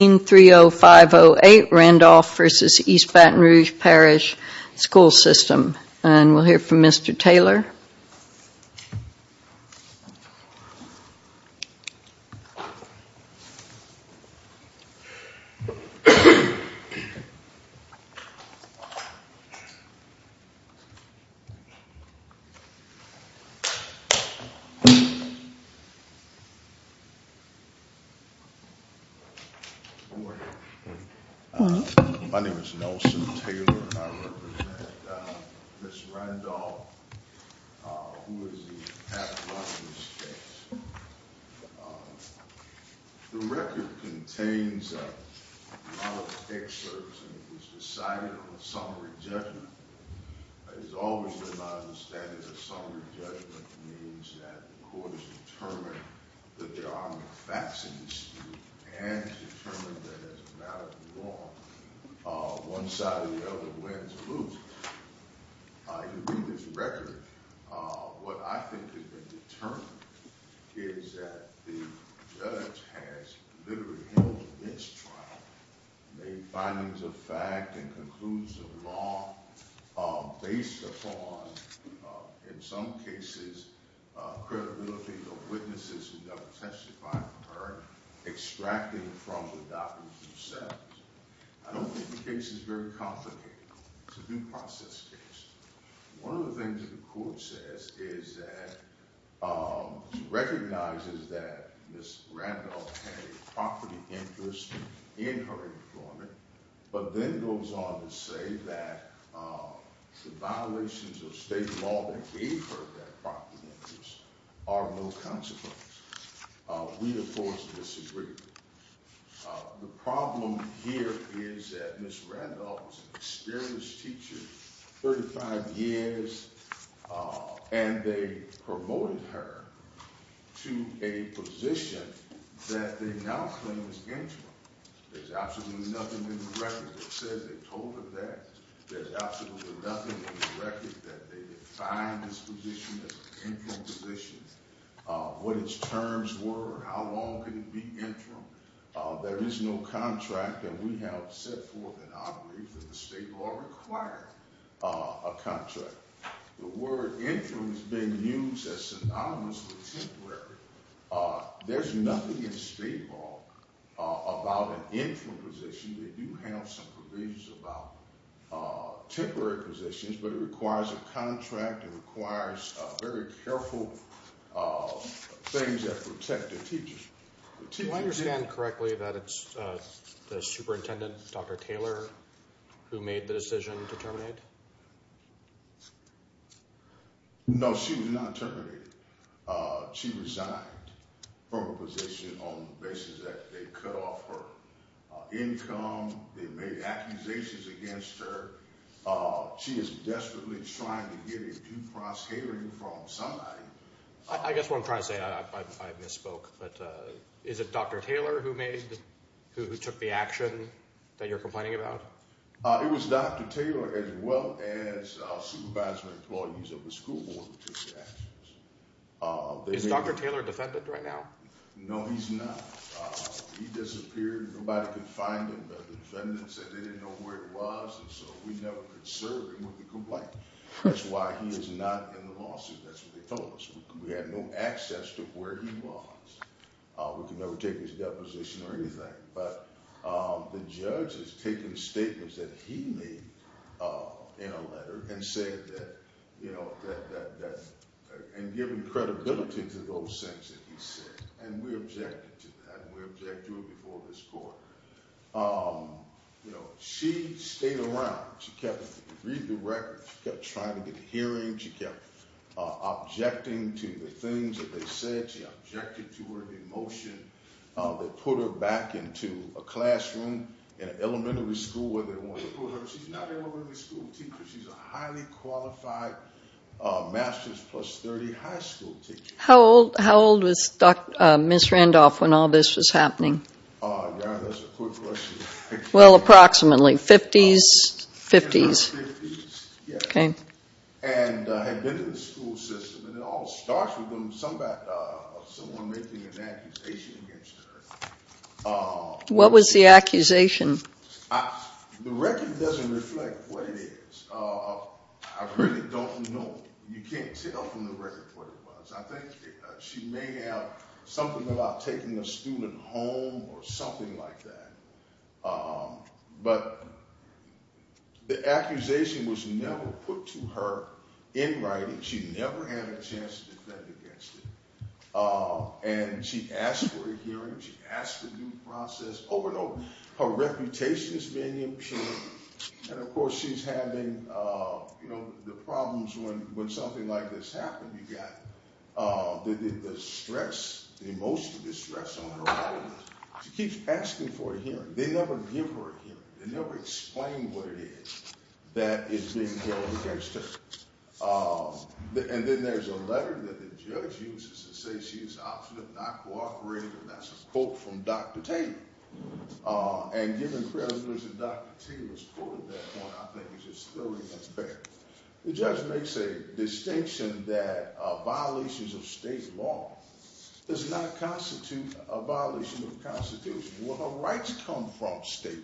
We will hear from Mr. Taylor. Good morning. My name is Nelson Taylor and I represent Ms. Randolph, who is the pathologist. The record contains a lot of excerpts and it was decided on a summary judgment. As always in my understanding, a summary judgment means that the court has determined that there are no facts in dispute and determined that as a matter of law, one side or the other wins or loses. In reading this record, what I think has been determined is that the judge has literally held this trial, made findings of fact and conclusions of law, based upon, in some cases, credibility of witnesses who have testified for her, extracted from the documents themselves. I don't think the case is very complicated. It's a due process case. One of the things that the court says is that it recognizes that Ms. Randolph had a property interest in her employment, but then goes on to say that the violations of state law that gave her that property interest are no consequence. We, of course, disagree. The problem here is that Ms. Randolph was an experienced teacher, 35 years, and they promoted her to a position that they now claim is infringement. There's absolutely nothing in the record that says they told her that. There's absolutely nothing in the record that they defined this position as an interim position, what its terms were, how long could it be interim. There is no contract that we have set forth in our brief that the state law requires a contract. The word interim has been used as synonymous with temporary. There's nothing in state law about an interim position that you have some provisions about temporary positions, but it requires a contract, it requires very careful things that protect the teachers. Do I understand correctly that it's the superintendent, Dr. Taylor, who made the decision to terminate? No, she was not terminated. She resigned from her position on the basis that they cut off her income, they made accusations against her. She is desperately trying to get a due process hearing from somebody. I guess what I'm trying to say, I misspoke, but is it Dr. Taylor who took the action that you're complaining about? It was Dr. Taylor as well as supervisor employees of the school board who took the actions. Is Dr. Taylor a defendant right now? No, he's not. He disappeared. Nobody could find him. The defendants said they didn't know where he was and so we never could serve him with the complaint. That's why he is not in the lawsuit. That's what they told us. We had no access to where he was. We could never take his deposition or anything. The judge has taken statements that he made in a letter and given credibility to those things that he said and we objected to that and we object to it before this court. She stayed around. She kept reading the records. She kept trying to get hearings. She kept objecting to the things that they said. She objected to her emotion. They put her back into a classroom in an elementary school where they wanted to put her. She's not an elementary school teacher. She's a highly qualified master's plus 30 high school teacher. How old was Ms. Randolph when all this was happening? That's a good question. In her 50s. And had been in the school system. It all starts with someone making an accusation against her. The record doesn't reflect what it is. You can't tell from the record what it was. I think she may have something about taking a student home or something like that. But the accusation was never put to her in writing. She never had a chance to defend against it. And she asked for a hearing. She asked for due process. Over and over. Her reputation is being impaired. And of course she's having the problems when something like this happens. You've got the stress, the emotional distress on her body. She keeps asking for a hearing. They never give her a hearing. They never explain what it is that is being held against her. And then there's a letter that the judge uses to say she's an obstinate non-cooperative. And that's a quote from Dr. Taylor. And given the credibility of Dr. Taylor's quote at that point, I think it's just thoroughly unfair. The judge makes a distinction that violations of state law does not constitute a violation of the Constitution. Well, her rights come from state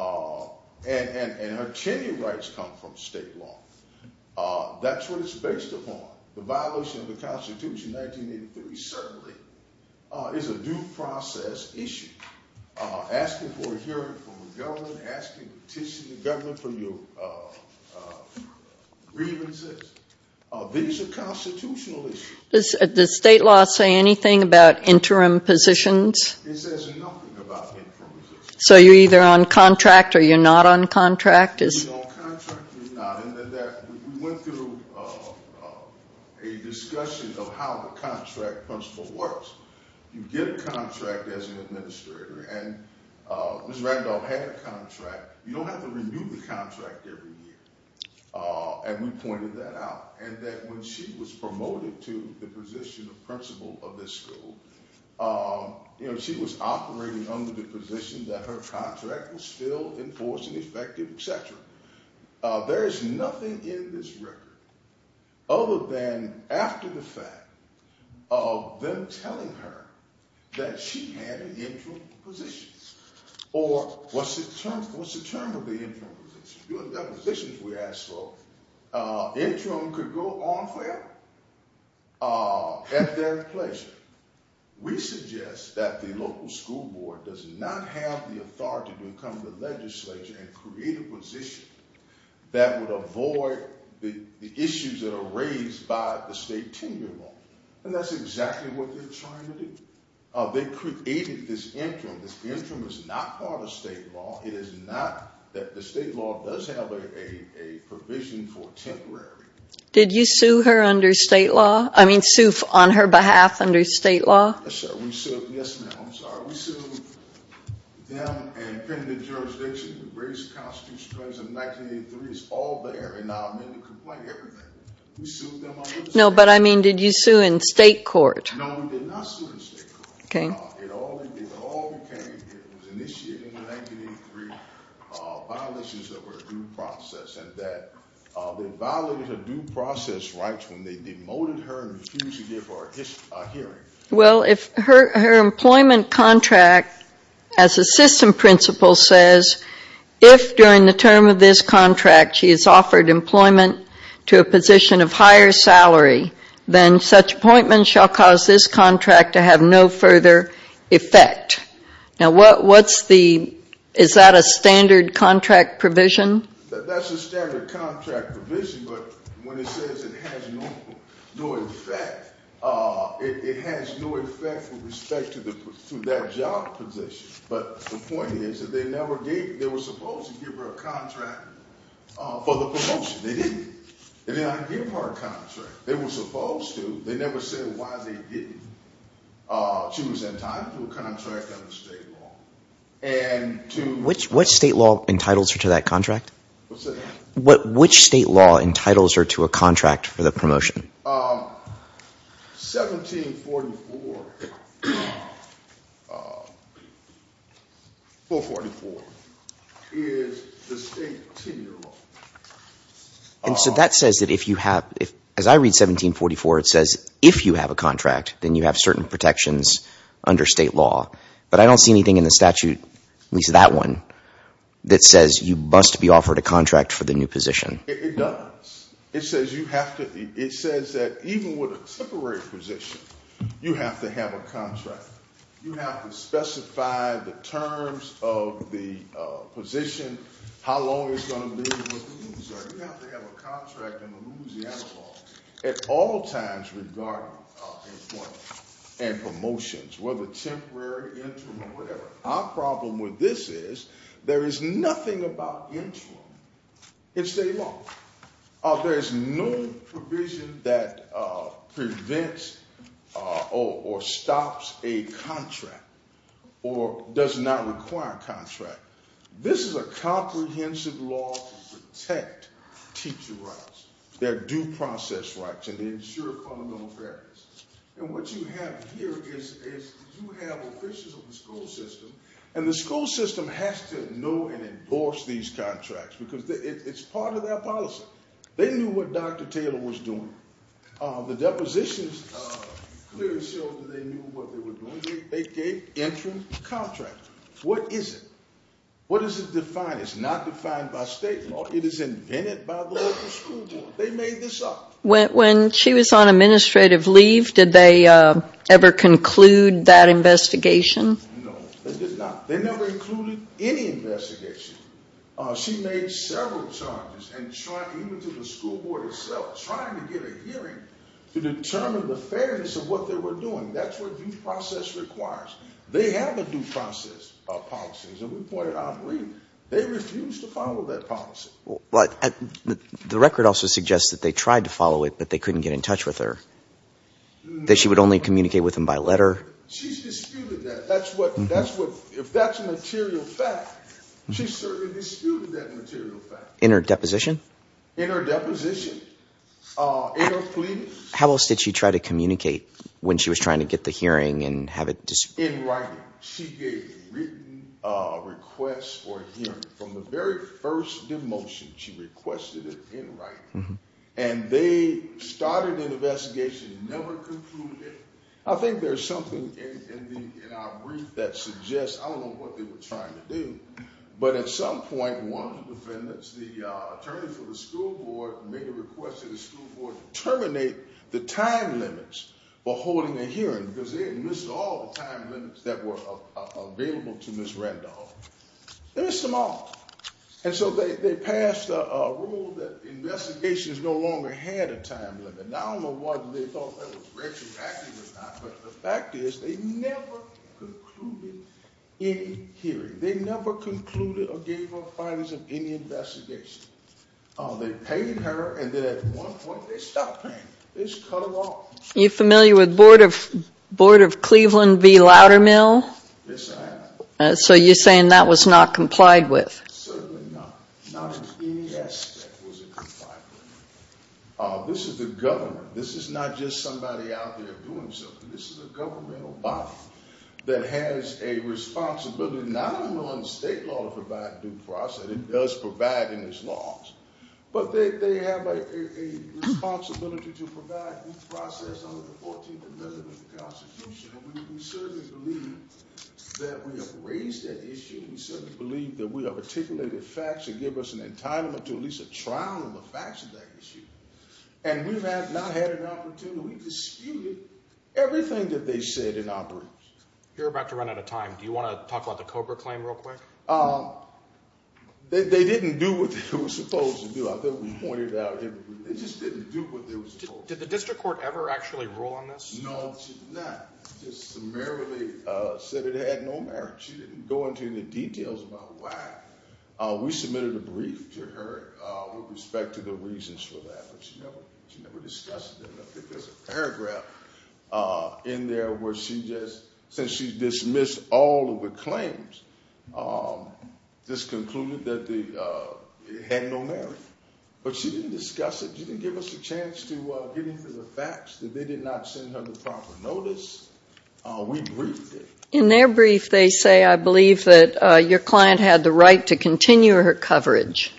law. And her tenure rights come from state law. That's what it's based upon. The violation of the Constitution, 1983, certainly is a due process issue. Asking for a hearing from the government, asking petitioning the government for your grievances. These are constitutional issues. Does state law say anything about interim positions? It says nothing about interim positions. So you're either on contract or you're not on contract? You're on contract or you're not. We went through a discussion of how the contract principle works. You get a contract as an administrator. And Ms. Randolph had a contract. You don't have to renew the contract every year. And we pointed that out. And that when she was promoted to the position of principal of this school, she was operating under the position that her contract was still in force and effective, etc. There is nothing in this record other than after the fact of them telling her that she had interim positions. Or what's the term of the interim positions? Interim could go on forever at their pleasure. We suggest that the local school board does not have the authority to come to the legislature and create a position that would avoid the issues that are raised by the state tenure law. And that's exactly what they're trying to do. They created this interim. This interim is not part of state law. It is not that the state law does have a provision for temporary. Did you sue her under state law? I mean, sue on her behalf under state law? Yes, ma'am. I'm sorry. We sued them and the jurisdiction. The greatest constitutional crimes of 1983 is all there. And now I'm going to complain about everything. No, but I mean, did you sue in state court? No, we did not sue in state court. It all became, it was initiated in 1983, violations of her due process. And that they violated her due process rights when they demoted her and refused to give her a hearing. Well, if her employment contract, as the system principle says, if during the term of this contract she is offered employment to a position of higher salary, then such appointment shall cause this contract to have no further effect. Now, what's the, is that a standard contract provision? That's a standard contract provision, but when it says it has no effect, it has no effect with respect to that job position. But the point is that they never gave, they were supposed to give her a contract for the promotion. They didn't. They did not give her a contract. They were supposed to. They never said why they didn't. She was entitled to a contract under state law. And to- Which state law entitles her to that contract? What's that? Which state law entitles her to a contract for the promotion? 1744, 444, is the state tenure law. And so that says that if you have, as I read 1744, it says if you have a contract, then you have certain protections under state law. But I don't see anything in the statute, at least that one, that says you must be offered a contract for the new position. It does. It says you have to, it says that even with a temporary position, you have to have a contract. You have to specify the terms of the position, how long it's going to be, what the rules are. You have to have a contract in the Louisiana law at all times regarding employment and promotions, whether temporary, interim, or whatever. Our problem with this is there is nothing about interim in state law. There is no provision that prevents or stops a contract or does not require a contract. This is a comprehensive law to protect teacher rights, their due process rights, and to ensure fundamental fairness. And what you have here is you have officials of the school system, and the school system has to know and endorse these contracts because it's part of their policy. They knew what Dr. Taylor was doing. The depositions clearly showed that they knew what they were doing. They gave interim contracts. What is it? What does it define? It's not defined by state law. It is invented by the local school board. They made this up. When she was on administrative leave, did they ever conclude that investigation? No, they did not. They never included any investigation. She made several charges, even to the school board itself, trying to get a hearing to determine the fairness of what they were doing. That's what due process requires. They have a due process policy, as we pointed out briefly. They refused to follow that policy. The record also suggests that they tried to follow it, but they couldn't get in touch with her, that she would only communicate with them by letter. She's disputed that. If that's a material fact, she's certainly disputed that material fact. In her deposition? In her deposition. In her pleadings. How else did she try to communicate when she was trying to get the hearing and have it disputed? In writing. She gave written requests for a hearing. From the very first demotion, she requested it in writing. And they started an investigation, never concluded it. I think there's something in our brief that suggests, I don't know what they were trying to do. But at some point, one of the defendants, the attorney for the school board, made a request to the school board to terminate the time limits for holding a hearing. Because they had missed all the time limits that were available to Ms. Randolph. They missed them all. And so they passed a rule that investigations no longer had a time limit. And I don't know whether they thought that was retroactive or not, but the fact is, they never concluded any hearing. They never concluded or gave up findings of any investigation. They paid her, and then at one point, they stopped paying her. They just cut her off. Are you familiar with Board of Cleveland v. Loudermill? Yes, I am. So you're saying that was not complied with? Certainly not. Not in any aspect was it complied with. This is the government. This is not just somebody out there doing something. This is a governmental body that has a responsibility not only on the state law to provide due process. It does provide in its laws. But they have a responsibility to provide due process under the 14th Amendment of the Constitution. And we certainly believe that we have raised that issue. We certainly believe that we have articulated facts that give us an entitlement to at least a trial of a fact-checking issue. And we have not had an opportunity. We disputed everything that they said in our briefs. You're about to run out of time. Do you want to talk about the Cobra claim real quick? They didn't do what they were supposed to do. I thought we pointed it out. They just didn't do what they were supposed to do. Did the district court ever actually rule on this? No, it did not. It just summarily said it had no merit. She didn't go into any details about why. We submitted a brief to her with respect to the reasons for that. But she never discussed it. There's a paragraph in there where she just says she dismissed all of the claims. This concluded that it had no merit. But she didn't discuss it. She didn't give us a chance to get into the facts, that they did not send her the proper notice. We briefed her. In their brief, they say, I believe, that your client had the right to continue her coverage.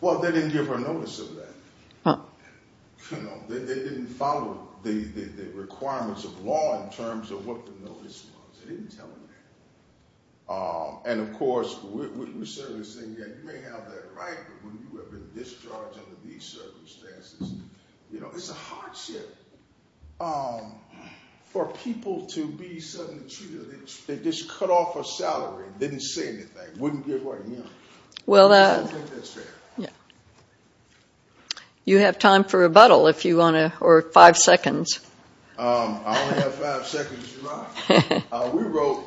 Well, they didn't give her notice of that. They didn't follow the requirements of law in terms of what the notice was. They didn't tell her that. And, of course, we certainly say, yeah, you may have that right, but when you have been discharged under these circumstances, it's a hardship for people to be suddenly treated like this. They just cut off her salary and didn't say anything, wouldn't give her a hearing. I think that's fair. You have time for rebuttal if you want to, or five seconds. I only have five seconds to write. We wrote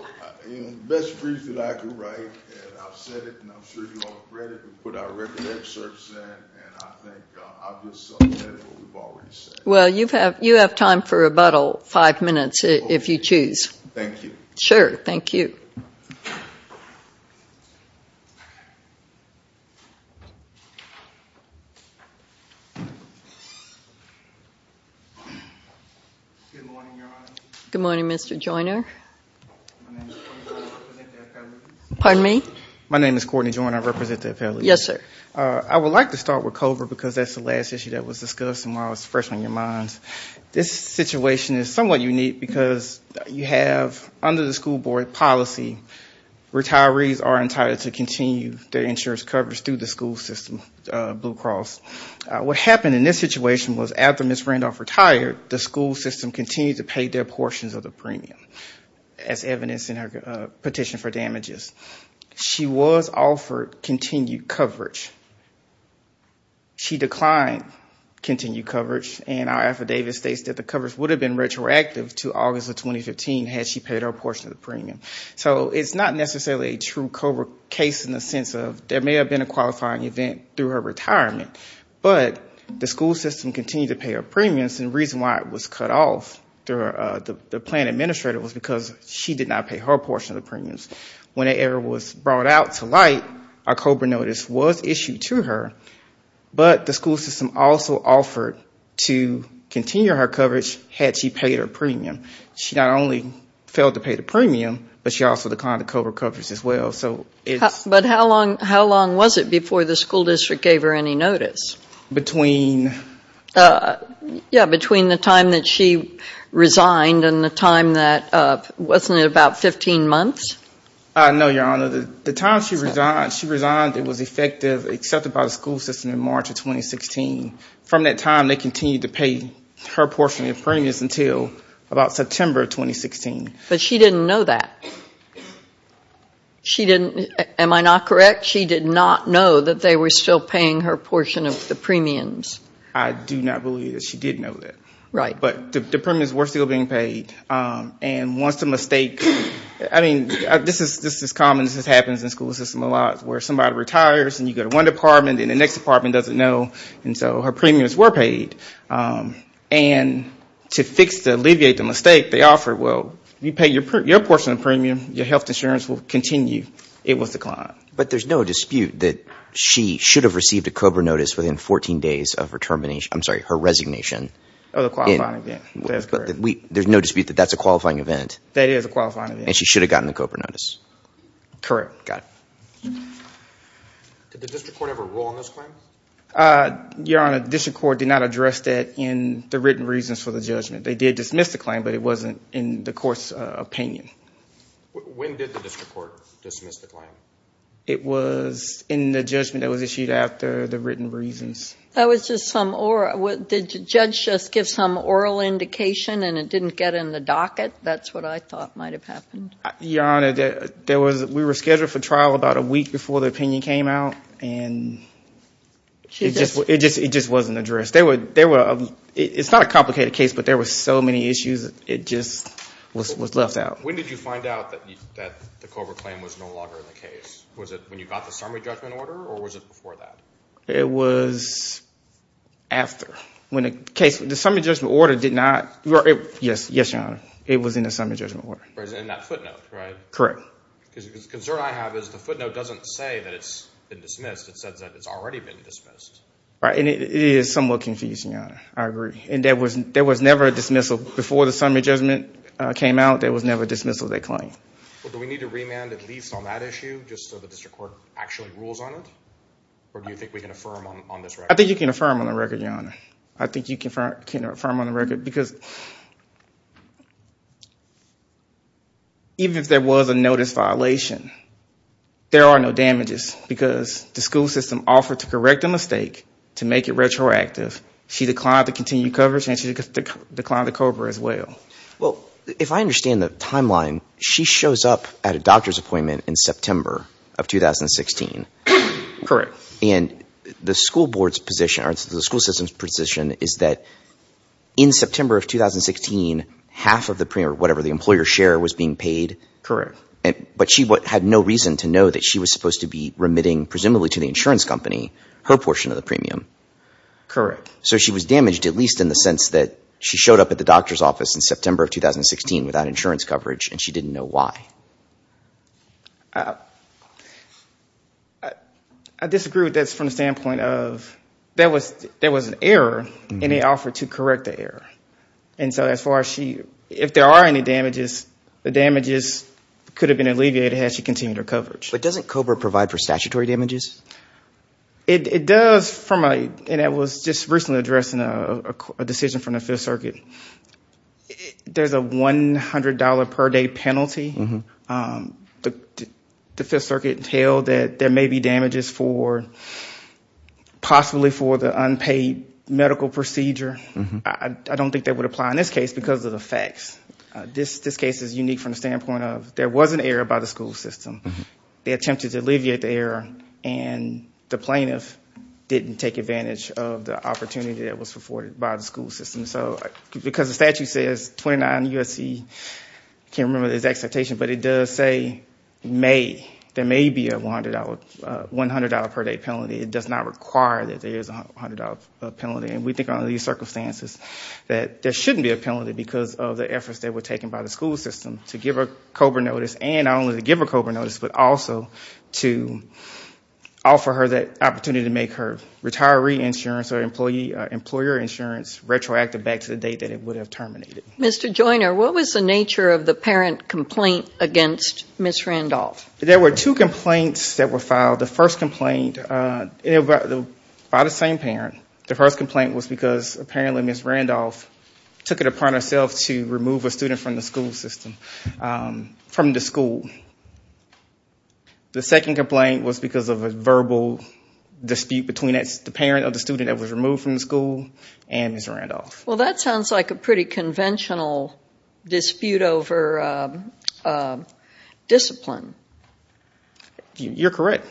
the best brief that I could write. And I've said it, and I'm sure you all have read it. We put our record excerpts in, and I think I've just said what we've already said. Well, you have time for rebuttal, five minutes, if you choose. Thank you. Sure, thank you. Good morning, Your Honor. Good morning, Mr. Joyner. My name is Courtney Joyner, I represent the appellate. Pardon me? My name is Courtney Joyner, I represent the appellate. Yes, sir. I would like to start with COBRA because that's the last issue that was discussed, and I was fresh on your minds. This situation is somewhat unique because you have, under the school board policy, retirees are entitled to continue their insurance coverage through the school system, Blue Cross. What happened in this situation was after Ms. Randolph retired, the school system continued to pay their portions of the premium, as evidenced in her petition for damages. She was offered continued coverage. She declined continued coverage, and our affidavit states that the coverage would have been retroactive to August of 2015 had she paid her portion of the premium. So it's not necessarily a true COBRA case in the sense of there may have been a qualifying event through her retirement, but the school system continued to pay her premiums, and the reason why it was cut off through the plan administrator was because she did not pay her portion of the premiums. Whenever it was brought out to light, a COBRA notice was issued to her, but the school system also offered to continue her coverage had she paid her premium. She not only failed to pay the premium, but she also declined the COBRA coverage as well. But how long was it before the school district gave her any notice? Between the time that she resigned and the time that, wasn't it about 15 months? No, Your Honor. The time she resigned, it was effective, accepted by the school system in March of 2016. From that time, they continued to pay her portion of the premiums until about September of 2016. But she didn't know that. She didn't, am I not correct? She did not know that they were still paying her portion of the premiums. I do not believe that she did know that. Right. But the premiums were still being paid, and once the mistake, I mean, this is common, this happens in the school system a lot where somebody retires and you go to one department and the next department doesn't know, and so her premiums were paid. And to fix, to alleviate the mistake, they offered, well, you pay your portion of the premium, your health insurance will continue. It was declined. But there's no dispute that she should have received a COBRA notice within 14 days of her termination, I'm sorry, her resignation. Of the qualifying event, that is correct. There's no dispute that that's a qualifying event. That is a qualifying event. And she should have gotten the COBRA notice. Correct. Got it. Did the district court ever rule on this claim? Your Honor, the district court did not address that in the written reasons for the judgment. They did dismiss the claim, but it wasn't in the court's opinion. When did the district court dismiss the claim? It was in the judgment that was issued after the written reasons. That was just some oral, did the judge just give some oral indication and it didn't get in the docket? That's what I thought might have happened. Your Honor, we were scheduled for trial about a week before the opinion came out, and it just wasn't addressed. It's not a complicated case, but there were so many issues, it just was left out. When did you find out that the COBRA claim was no longer in the case? Was it when you got the summary judgment order, or was it before that? It was after. The summary judgment order did not, yes, Your Honor, it was in the summary judgment order. It was in that footnote, right? Correct. Because the concern I have is the footnote doesn't say that it's been dismissed. It says that it's already been dismissed. Right, and it is somewhat confusing, Your Honor. I agree, and there was never a dismissal before the summary judgment came out. There was never a dismissal of that claim. Well, do we need to remand at least on that issue, just so the district court actually rules on it? Or do you think we can affirm on this record? I think you can affirm on the record, Your Honor. I think you can affirm on the record because even if there was a notice violation, there are no damages because the school system offered to correct the mistake, to make it retroactive. She declined to continue coverage, and she declined to COBRA as well. Well, if I understand the timeline, she shows up at a doctor's appointment in September of 2016. Correct. And the school board's position or the school system's position is that in September of 2016, half of the premium, or whatever, the employer's share was being paid. Correct. But she had no reason to know that she was supposed to be remitting, presumably to the insurance company, her portion of the premium. Correct. So she was damaged at least in the sense that she showed up at the doctor's office in September of 2016 without insurance coverage, and she didn't know why. I disagree with this from the standpoint of there was an error, and they offered to correct the error. And so as far as she – if there are any damages, the damages could have been alleviated had she continued her coverage. But doesn't COBRA provide for statutory damages? It does from a – and it was just recently addressed in a decision from the Fifth Circuit. There's a $100 per day penalty. The Fifth Circuit held that there may be damages for – possibly for the unpaid medical procedure. I don't think that would apply in this case because of the facts. This case is unique from the standpoint of there was an error by the school system. They attempted to alleviate the error, and the plaintiff didn't take advantage of the opportunity that was afforded by the school system. So because the statute says 29 U.S.C. – I can't remember the exact citation, but it does say may. There may be a $100 per day penalty. It does not require that there is a $100 penalty. And we think under these circumstances that there shouldn't be a penalty because of the efforts that were taken by the school system to give her COBRA notice, and not only to give her COBRA notice, but also to offer her that opportunity to make her retiree insurance or employer insurance retroactive back to the date that it would have terminated. Mr. Joyner, what was the nature of the parent complaint against Ms. Randolph? There were two complaints that were filed. The first complaint – by the same parent. The first complaint was because apparently Ms. Randolph took it upon herself to remove a student from the school system – from the school. The second complaint was because of a verbal dispute between the parent of the student that was removed from the school and Ms. Randolph. Well, that sounds like a pretty conventional dispute over discipline. You're correct.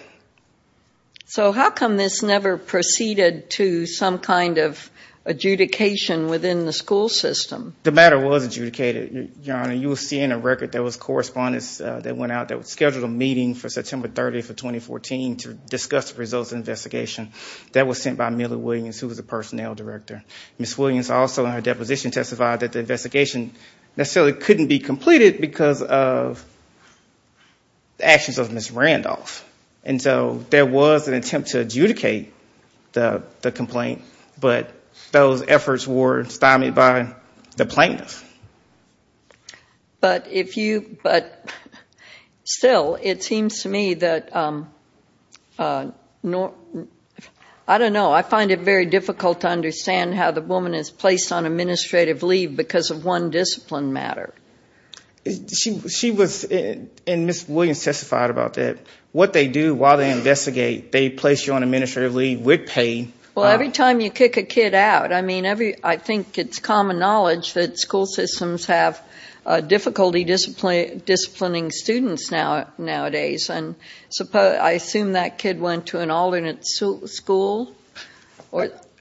So how come this never proceeded to some kind of adjudication within the school system? The matter was adjudicated, Your Honor. You will see in a record there was correspondence that went out that scheduled a meeting for September 30th of 2014 to discuss the results of the investigation. That was sent by Millie Williams, who was the personnel director. Ms. Williams also in her deposition testified that the investigation necessarily couldn't be completed because of the actions of Ms. Randolph. And so there was an attempt to adjudicate the complaint, but those efforts were stymied by the plaintiffs. But if you – but still, it seems to me that – I don't know. I find it very difficult to understand how the woman is placed on administrative leave because of one discipline matter. She was – and Ms. Williams testified about that. What they do while they investigate, they place you on administrative leave with pay. Well, every time you kick a kid out – I mean, I think it's common knowledge that school systems have difficulty disciplining students nowadays. And I assume that kid went to an alternate school?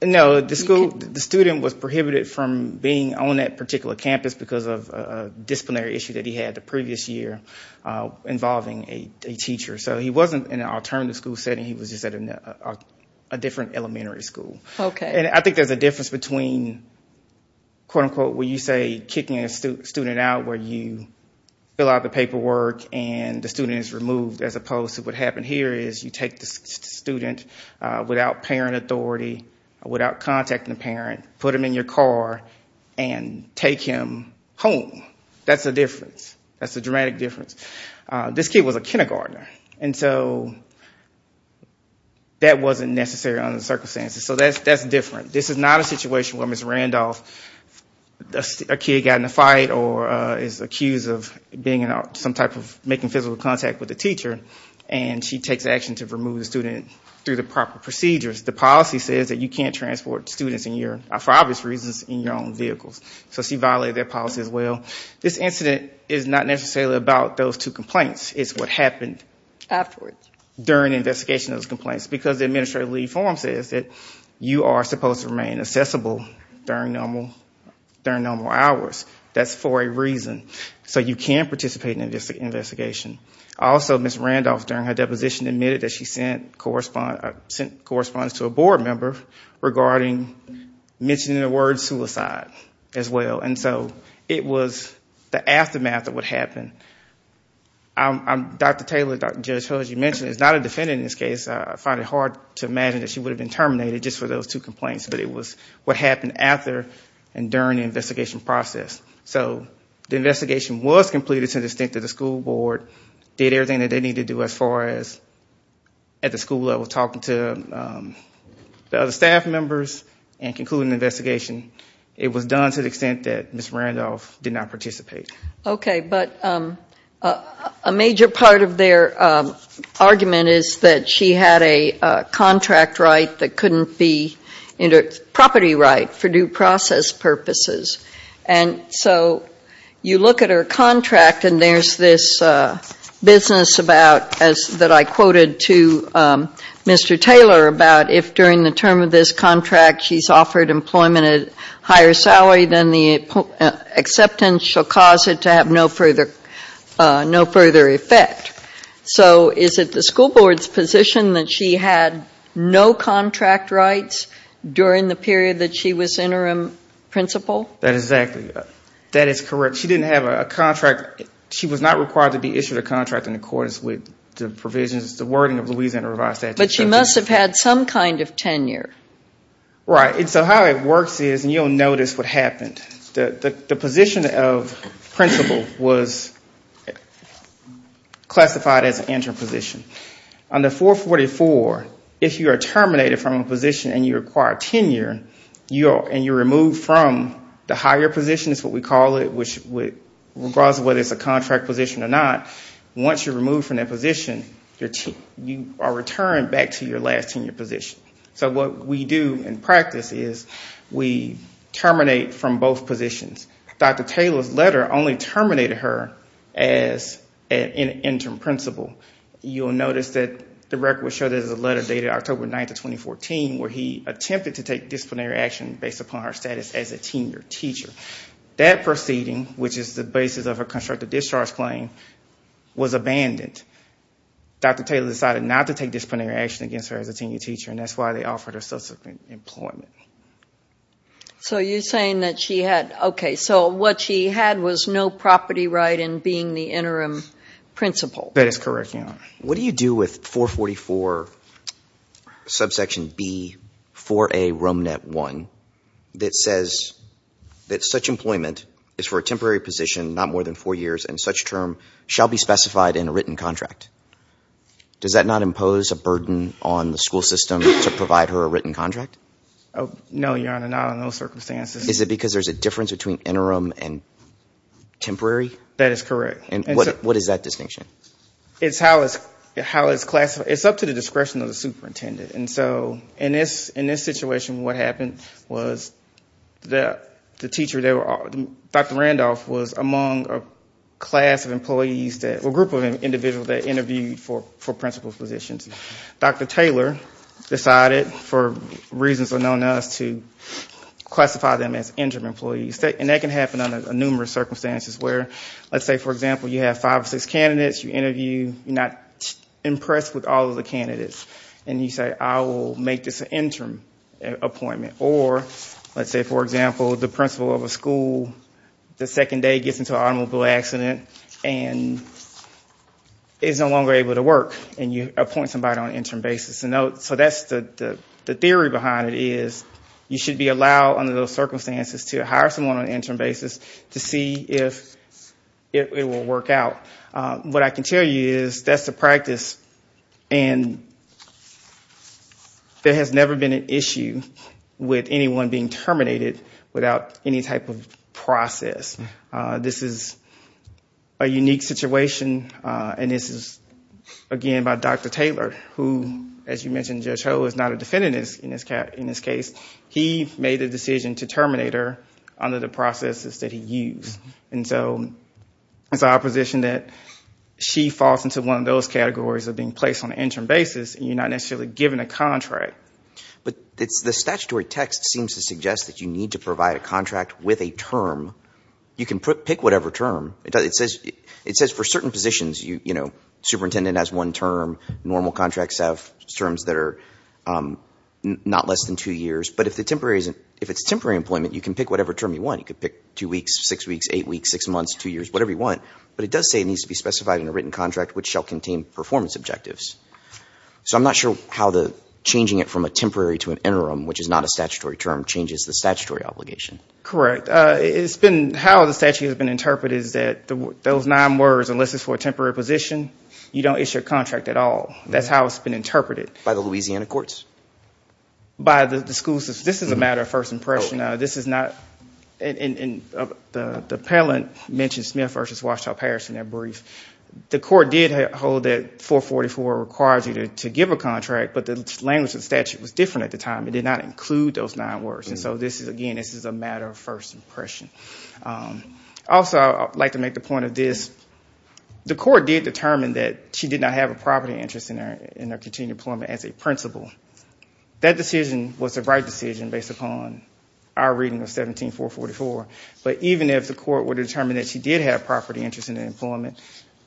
No, the student was prohibited from being on that particular campus because of a disciplinary issue that he had the previous year involving a teacher. So he wasn't in an alternate school setting. He was just at a different elementary school. Okay. And I think there's a difference between, quote-unquote, when you say kicking a student out where you fill out the paperwork and the student is removed, as opposed to what happened here is you take the student without parent authority, without contacting the parent, put him in your car, and take him home. That's the difference. That's the dramatic difference. This kid was a kindergartner, and so that wasn't necessary under the circumstances. So that's different. This is not a situation where Ms. Randolph – a kid got in a fight or is accused of being – some type of making physical contact with a teacher, and she takes action to remove the student through the proper procedures. The policy says that you can't transport students in your – for obvious reasons, in your own vehicles. So she violated that policy as well. This incident is not necessarily about those two complaints. It's what happened. Afterwards. During the investigation of those complaints because the administrative leave form says that you are supposed to remain accessible during normal hours. That's for a reason. So you can participate in an investigation. Also, Ms. Randolph, during her deposition, admitted that she sent correspondence to a board member regarding mentioning the word suicide as well. And so it was the aftermath of what happened. Dr. Taylor, Judge Ho, as you mentioned, is not a defendant in this case. I find it hard to imagine that she would have been terminated just for those two complaints, but it was what happened after and during the investigation process. So the investigation was completed to the extent that the school board did everything that they needed to do as far as, at the school level, talking to the other staff members and concluding the investigation. It was done to the extent that Ms. Randolph did not participate. Okay. But a major part of their argument is that she had a contract right that couldn't be property right for due process purposes. And so you look at her contract and there's this business about, that I quoted to Mr. Taylor, about if during the term of this contract she's offered employment at a higher salary, then the acceptance shall cause it to have no further effect. So is it the school board's position that she had no contract rights during the period that she was interim principal? That is correct. She didn't have a contract. She was not required to be issued a contract in accordance with the provisions, the wording of the Louisiana Revised Statute. But she must have had some kind of tenure. Right. And so how it works is, and you'll notice what happened, the position of principal was classified as interim position. On the 444, if you are terminated from a position and you require tenure, and you're removed from the higher position is what we call it, regardless of whether it's a contract position or not, once you're removed from that position, you are returned back to your last tenure position. So what we do in practice is we terminate from both positions. Dr. Taylor's letter only terminated her as an interim principal. You'll notice that the record will show there's a letter dated October 9th of 2014 where he attempted to take disciplinary action based upon her status as a tenure teacher. That proceeding, which is the basis of her constructed discharge claim, was abandoned. Dr. Taylor decided not to take disciplinary action against her as a tenure teacher, and that's why they offered her subsequent employment. So you're saying that she had, okay, so what she had was no property right in being the interim principal. That is correct, Your Honor. What do you do with 444, subsection B, 4A, RomeNet 1, that says that such employment is for a temporary position, not more than four years, and such term shall be specified in a written contract? Does that not impose a burden on the school system to provide her a written contract? No, Your Honor, not in those circumstances. Is it because there's a difference between interim and temporary? That is correct. And what is that distinction? It's how it's classified. It's up to the discretion of the superintendent. And so in this situation, what happened was the teacher, Dr. Randolph, was among a class of employees, a group of individuals that interviewed for principal positions. Dr. Taylor decided, for reasons unknown to us, to classify them as interim employees. And that can happen under numerous circumstances where, let's say, for example, you have five or six candidates, you interview, you're not impressed with all of the candidates, and you say, I will make this an interim appointment. Or, let's say, for example, the principal of a school the second day gets into an automobile accident and is no longer able to work, and you appoint somebody on an interim basis. So that's the theory behind it is you should be allowed, under those circumstances, to hire someone on an interim basis to see if it will work out. What I can tell you is that's the practice, and there has never been an issue with anyone being terminated without any type of process. This is a unique situation, and this is, again, by Dr. Taylor, who, as you mentioned, Judge Ho is not a defendant in this case. He made the decision to terminate her under the processes that he used. And so it's our position that she falls into one of those categories of being placed on an interim basis, and you're not necessarily given a contract. But the statutory text seems to suggest that you need to provide a contract with a term. You can pick whatever term. It says for certain positions, you know, superintendent has one term, normal contracts have terms that are not less than two years. But if it's temporary employment, you can pick whatever term you want. You can pick two weeks, six weeks, eight weeks, six months, two years, whatever you want. But it does say it needs to be specified in a written contract which shall contain performance objectives. So I'm not sure how changing it from a temporary to an interim, which is not a statutory term, changes the statutory obligation. Correct. How the statute has been interpreted is that those nine words, unless it's for a temporary position, you don't issue a contract at all. That's how it's been interpreted. By the Louisiana courts? By the schools. This is a matter of first impression. This is not, and the appellant mentioned Smith v. Washtenaw Parish in their brief. The court did hold that 444 requires you to give a contract, but the language of the statute was different at the time. It did not include those nine words. And so this is, again, this is a matter of first impression. Also, I'd like to make the point of this. The court did determine that she did not have a property interest in her continued employment as a principal. That decision was the right decision based upon our reading of 17444. But even if the court were to determine that she did have a property interest in her employment,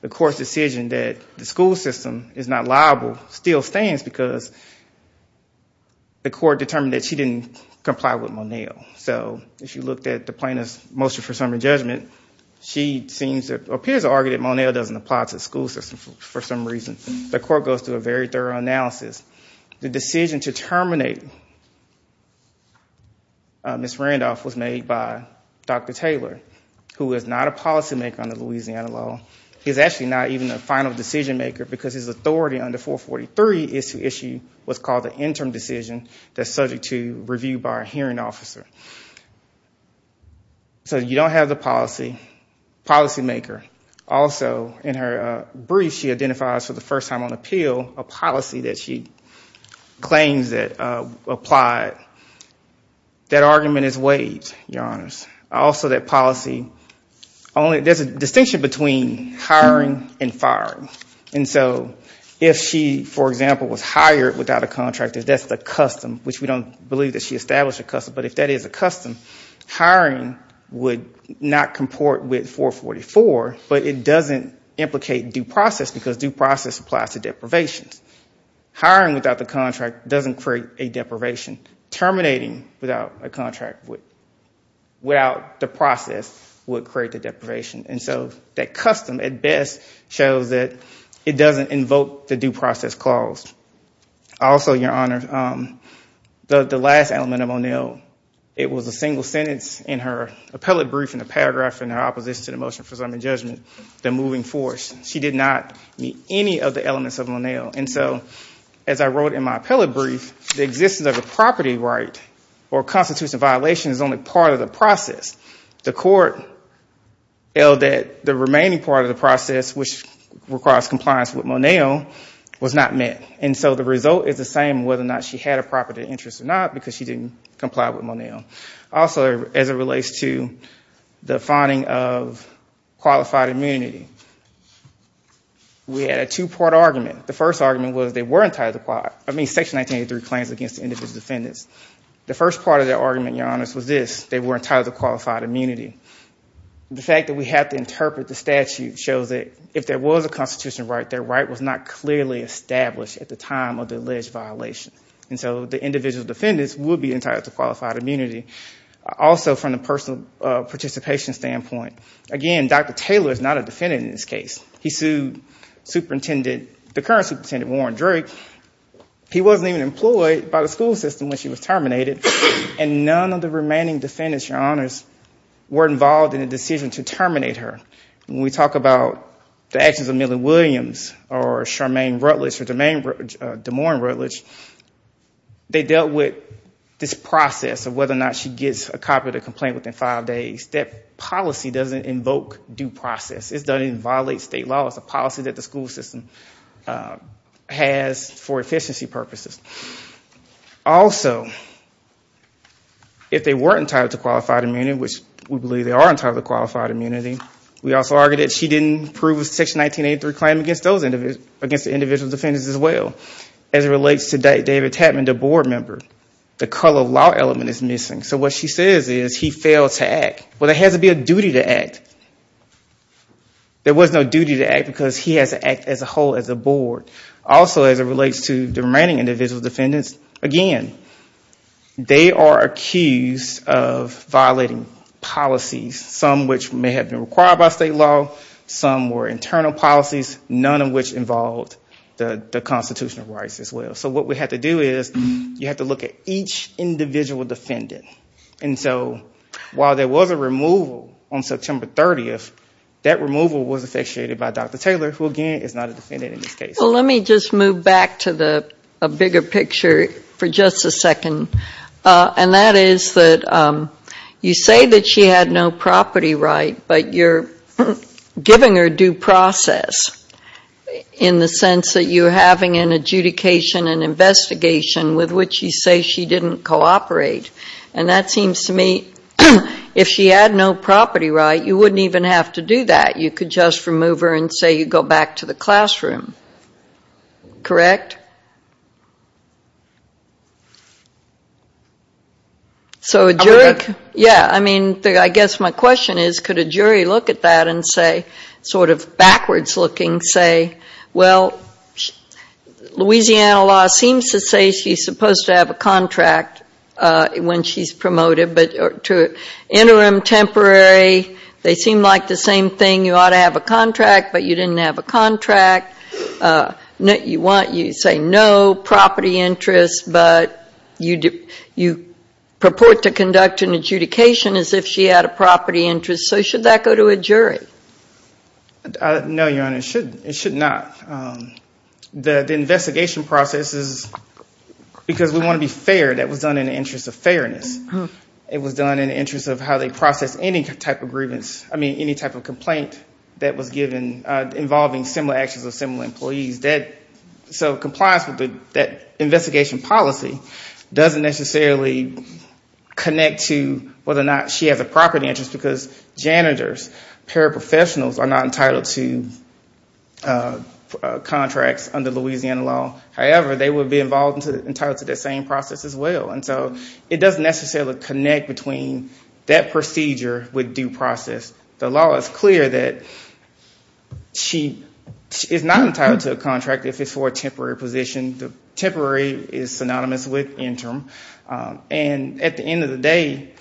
the court's decision that the school system is not liable still stands because the court determined that she didn't comply with Moneo. So if you looked at the plaintiff's motion for summary judgment, she appears to argue that Moneo doesn't apply to the school system for some reason. The court goes through a very thorough analysis. The decision to terminate Ms. Randolph was made by Dr. Taylor, who is not a policymaker under Louisiana law. He's actually not even a final decision maker because his authority under 443 is to issue what's called an interim decision that's subject to review by a hearing officer. So you don't have the policy, policymaker. Also, in her brief, she identifies for the first time on appeal a policy that she claims that applied. That argument is weighed, Your Honors. Also, that policy, there's a distinction between hiring and firing. If she, for example, was hired without a contract, if that's the custom, which we don't believe that she established a custom, but if that is a custom, hiring would not comport with 444, but it doesn't implicate due process because due process applies to deprivations. Hiring without the contract doesn't create a deprivation. Terminating without a contract, without the process, would create a deprivation. And so that custom, at best, shows that it doesn't invoke the due process clause. Also, Your Honors, the last element of Monell, it was a single sentence in her appellate brief, in the paragraph in her opposition to the motion for assignment judgment, the moving force. She did not meet any of the elements of Monell. And so as I wrote in my appellate brief, the existence of a property right or constitutional violation is only part of the process. The court held that the remaining part of the process, which requires compliance with Monell, was not met. And so the result is the same, whether or not she had a property interest or not, because she didn't comply with Monell. Also, as it relates to the finding of qualified immunity, we had a two-part argument. The first argument was they were entitled to, I mean, Section 1983 claims against individual defendants. The first part of that argument, Your Honors, was this, they were entitled to qualified immunity. The fact that we had to interpret the statute shows that if there was a constitutional right, their right was not clearly established at the time of the alleged violation. And so the individual defendants would be entitled to qualified immunity. Also, from the personal participation standpoint, again, Dr. Taylor is not a defendant in this case. He sued the current superintendent, Warren Drake. He wasn't even employed by the school system when she was terminated, and none of the remaining defendants, Your Honors, were involved in the decision to terminate her. When we talk about the actions of Millie Williams or Charmaine Rutledge or Damore and Rutledge, they dealt with this process of whether or not she gets a copy of the complaint within five days. That policy doesn't invoke due process. It doesn't even violate state law. It's a policy that the school system has for efficiency purposes. Also, if they weren't entitled to qualified immunity, which we believe they are entitled to qualified immunity, we also argue that she didn't prove Section 1983 claim against the individual defendants as well. As it relates to David Tapman, the board member, the color law element is missing. So what she says is he failed to act. Well, there has to be a duty to act. There was no duty to act because he has to act as a whole, as a board. Also, as it relates to the remaining individual defendants, again, they are accused of violating policies, some of which may have been required by state law, some were internal policies, none of which involved the constitutional rights as well. So what we have to do is you have to look at each individual defendant. So while there was a removal on September 30th, that removal was effectuated by Dr. Taylor, who again is not a defendant in this case. Well, let me just move back to a bigger picture for just a second. And that is that you say that she had no property right, but you're giving her due process in the sense that you're having an adjudication, an investigation with which you say she didn't cooperate. And that seems to me if she had no property right, you wouldn't even have to do that. You could just remove her and say you go back to the classroom. Correct? So a jury, yeah, I mean, I guess my question is could a jury look at that and say, sort of backwards looking, say, well, Louisiana law seems to say she's supposed to have a contract when she's promoted, but to interim, temporary, they seem like the same thing. You ought to have a contract, but you didn't have a contract. You say no property interests, but you purport to conduct an adjudication as if she had a property interest. So should that go to a jury? No, Your Honor, it should not. The investigation process is because we want to be fair. That was done in the interest of fairness. It was done in the interest of how they process any type of grievance, I mean, any type of complaint that was given involving similar actions of similar employees. So compliance with that investigation policy doesn't necessarily connect to whether or not she has a property interest, because janitors, paraprofessionals are not entitled to contracts under Louisiana law. However, they would be entitled to that same process as well. And so it doesn't necessarily connect between that procedure with due process. The law is clear that she is not entitled to a contract if it's for a temporary position. Temporary is synonymous with interim. And at the end of the day,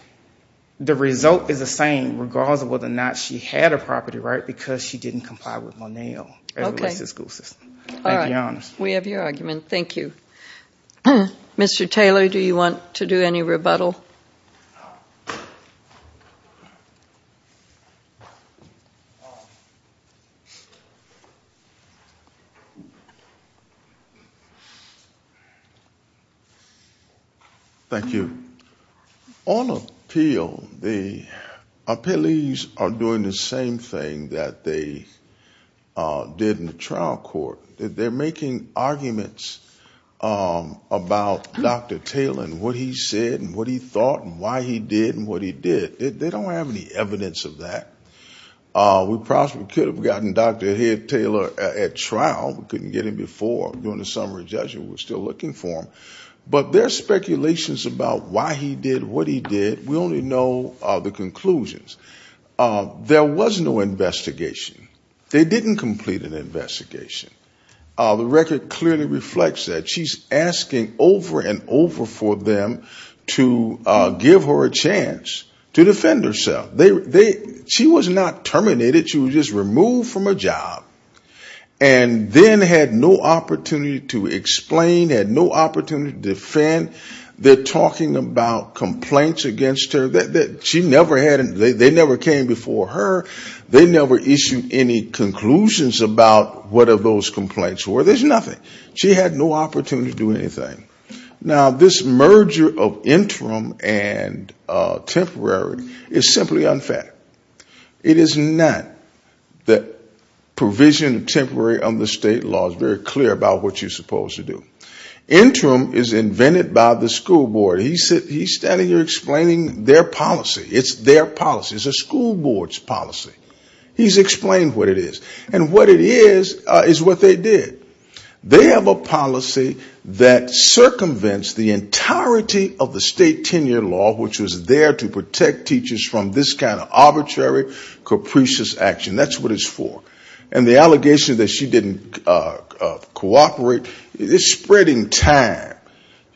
the result is the same, regardless of whether or not she had a property right, because she didn't comply with Monell as it relates to the school system. Thank you, Your Honor. We have your argument. Thank you. Mr. Taylor, do you want to do any rebuttal? Thank you. On appeal, the appellees are doing the same thing that they did in the trial court. They're making arguments about Dr. Taylor and what he said and what he thought and why he did and what he did. They don't have any evidence of that. We could have gotten Dr. Taylor at trial. We couldn't get him before during the summary judgment. We're still looking for him. But there are speculations about why he did what he did. We only know the conclusions. There was no investigation. They didn't complete an investigation. The record clearly reflects that. She's asking over and over for them to give her a chance to defend herself. She was not terminated. She was just removed from her job and then had no opportunity to explain, had no opportunity to defend. They're talking about complaints against her. They never came before her. They never issued any conclusions about what those complaints were. There's nothing. She had no opportunity to do anything. Now, this merger of interim and temporary is simply unfounded. It is not that provision of temporary under state law is very clear about what you're supposed to do. Interim is invented by the school board. He's standing there explaining their policy. It's their policy. It's a school board's policy. He's explained what it is. And what it is is what they did. They have a policy that circumvents the entirety of the state tenure law, which was there to protect teachers from this kind of arbitrary, capricious action. That's what it's for. And the allegation that she didn't cooperate is spreading time.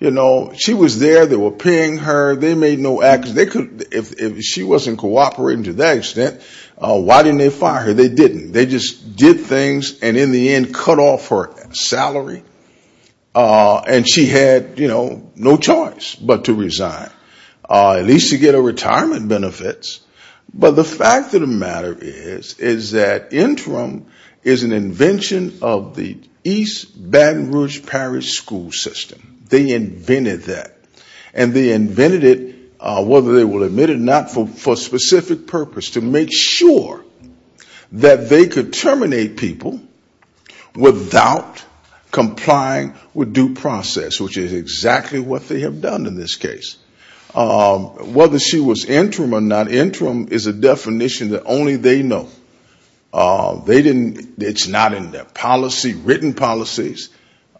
You know, she was there. They were paying her. They made no action. If she wasn't cooperating to that extent, why didn't they fire her? They didn't. They just did things and, in the end, cut off her salary. And she had, you know, no choice but to resign, at least to get her retirement benefits. But the fact of the matter is, is that interim is an invention of the East Baton Rouge Parish school system. They invented that. And they invented it, whether they will admit it or not, for a specific purpose, to make sure that they could terminate people without complying with due process, which is exactly what they have done in this case. Whether she was interim or not, interim is a definition that only they know. It's not in their policy, written policies.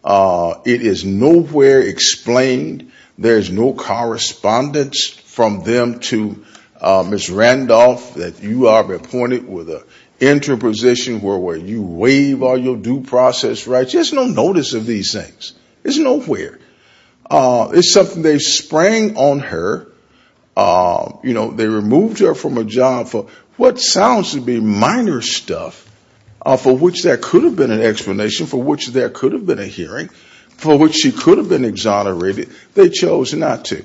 It is nowhere explained. There's no correspondence from them to Ms. Randolph that you are appointed with an interim position where you waive all your due process rights. There's no notice of these things. It's nowhere. It's something they sprang on her. You know, they removed her from a job for what sounds to be minor stuff, for which there could have been an explanation, for which there could have been a hearing, for which she could have been exonerated. They chose not to.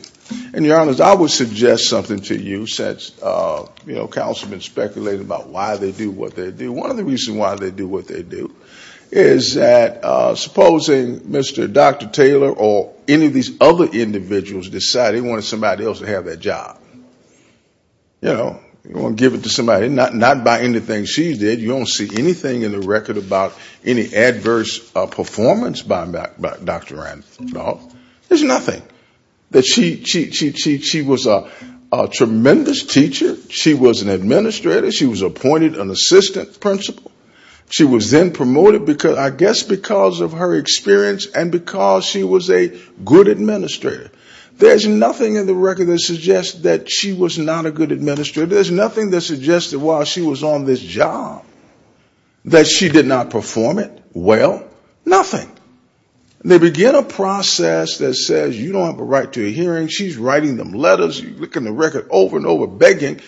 And, Your Honors, I would suggest something to you since, you know, councilmen speculated about why they do what they do. One of the reasons why they do what they do is that supposing Mr. Dr. Taylor or any of these other individuals decided they wanted somebody else to have that job. You know, you want to give it to somebody. Not by anything she did. You don't see anything in the record about any adverse performance by Dr. Randolph. There's nothing. She was a tremendous teacher. She was an administrator. She was appointed an assistant principal. She was then promoted, I guess because of her experience and because she was a good administrator. There's nothing in the record that suggests that she was not a good administrator. There's nothing that suggested while she was on this job that she did not perform it well. Nothing. They begin a process that says you don't have a right to a hearing. She's writing them letters, looking at the record over and over, begging.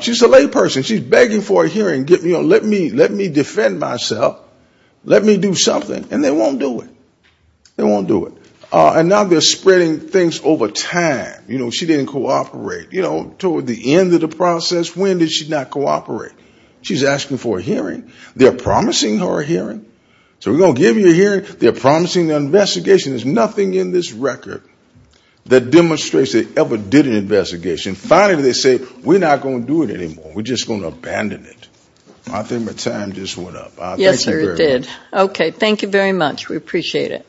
She's a lay person. She's begging for a hearing. Let me defend myself. Let me do something. And they won't do it. They won't do it. And now they're spreading things over time. You know, she didn't cooperate. You know, toward the end of the process, when did she not cooperate? She's asking for a hearing. They're promising her a hearing. So we're going to give you a hearing. They're promising an investigation. There's nothing in this record that demonstrates they ever did an investigation. Finally they say we're not going to do it anymore. We're just going to abandon it. I think my time just went up. Thank you very much. Yes, sir, it did. Okay. Thank you very much. We appreciate it. Thank you.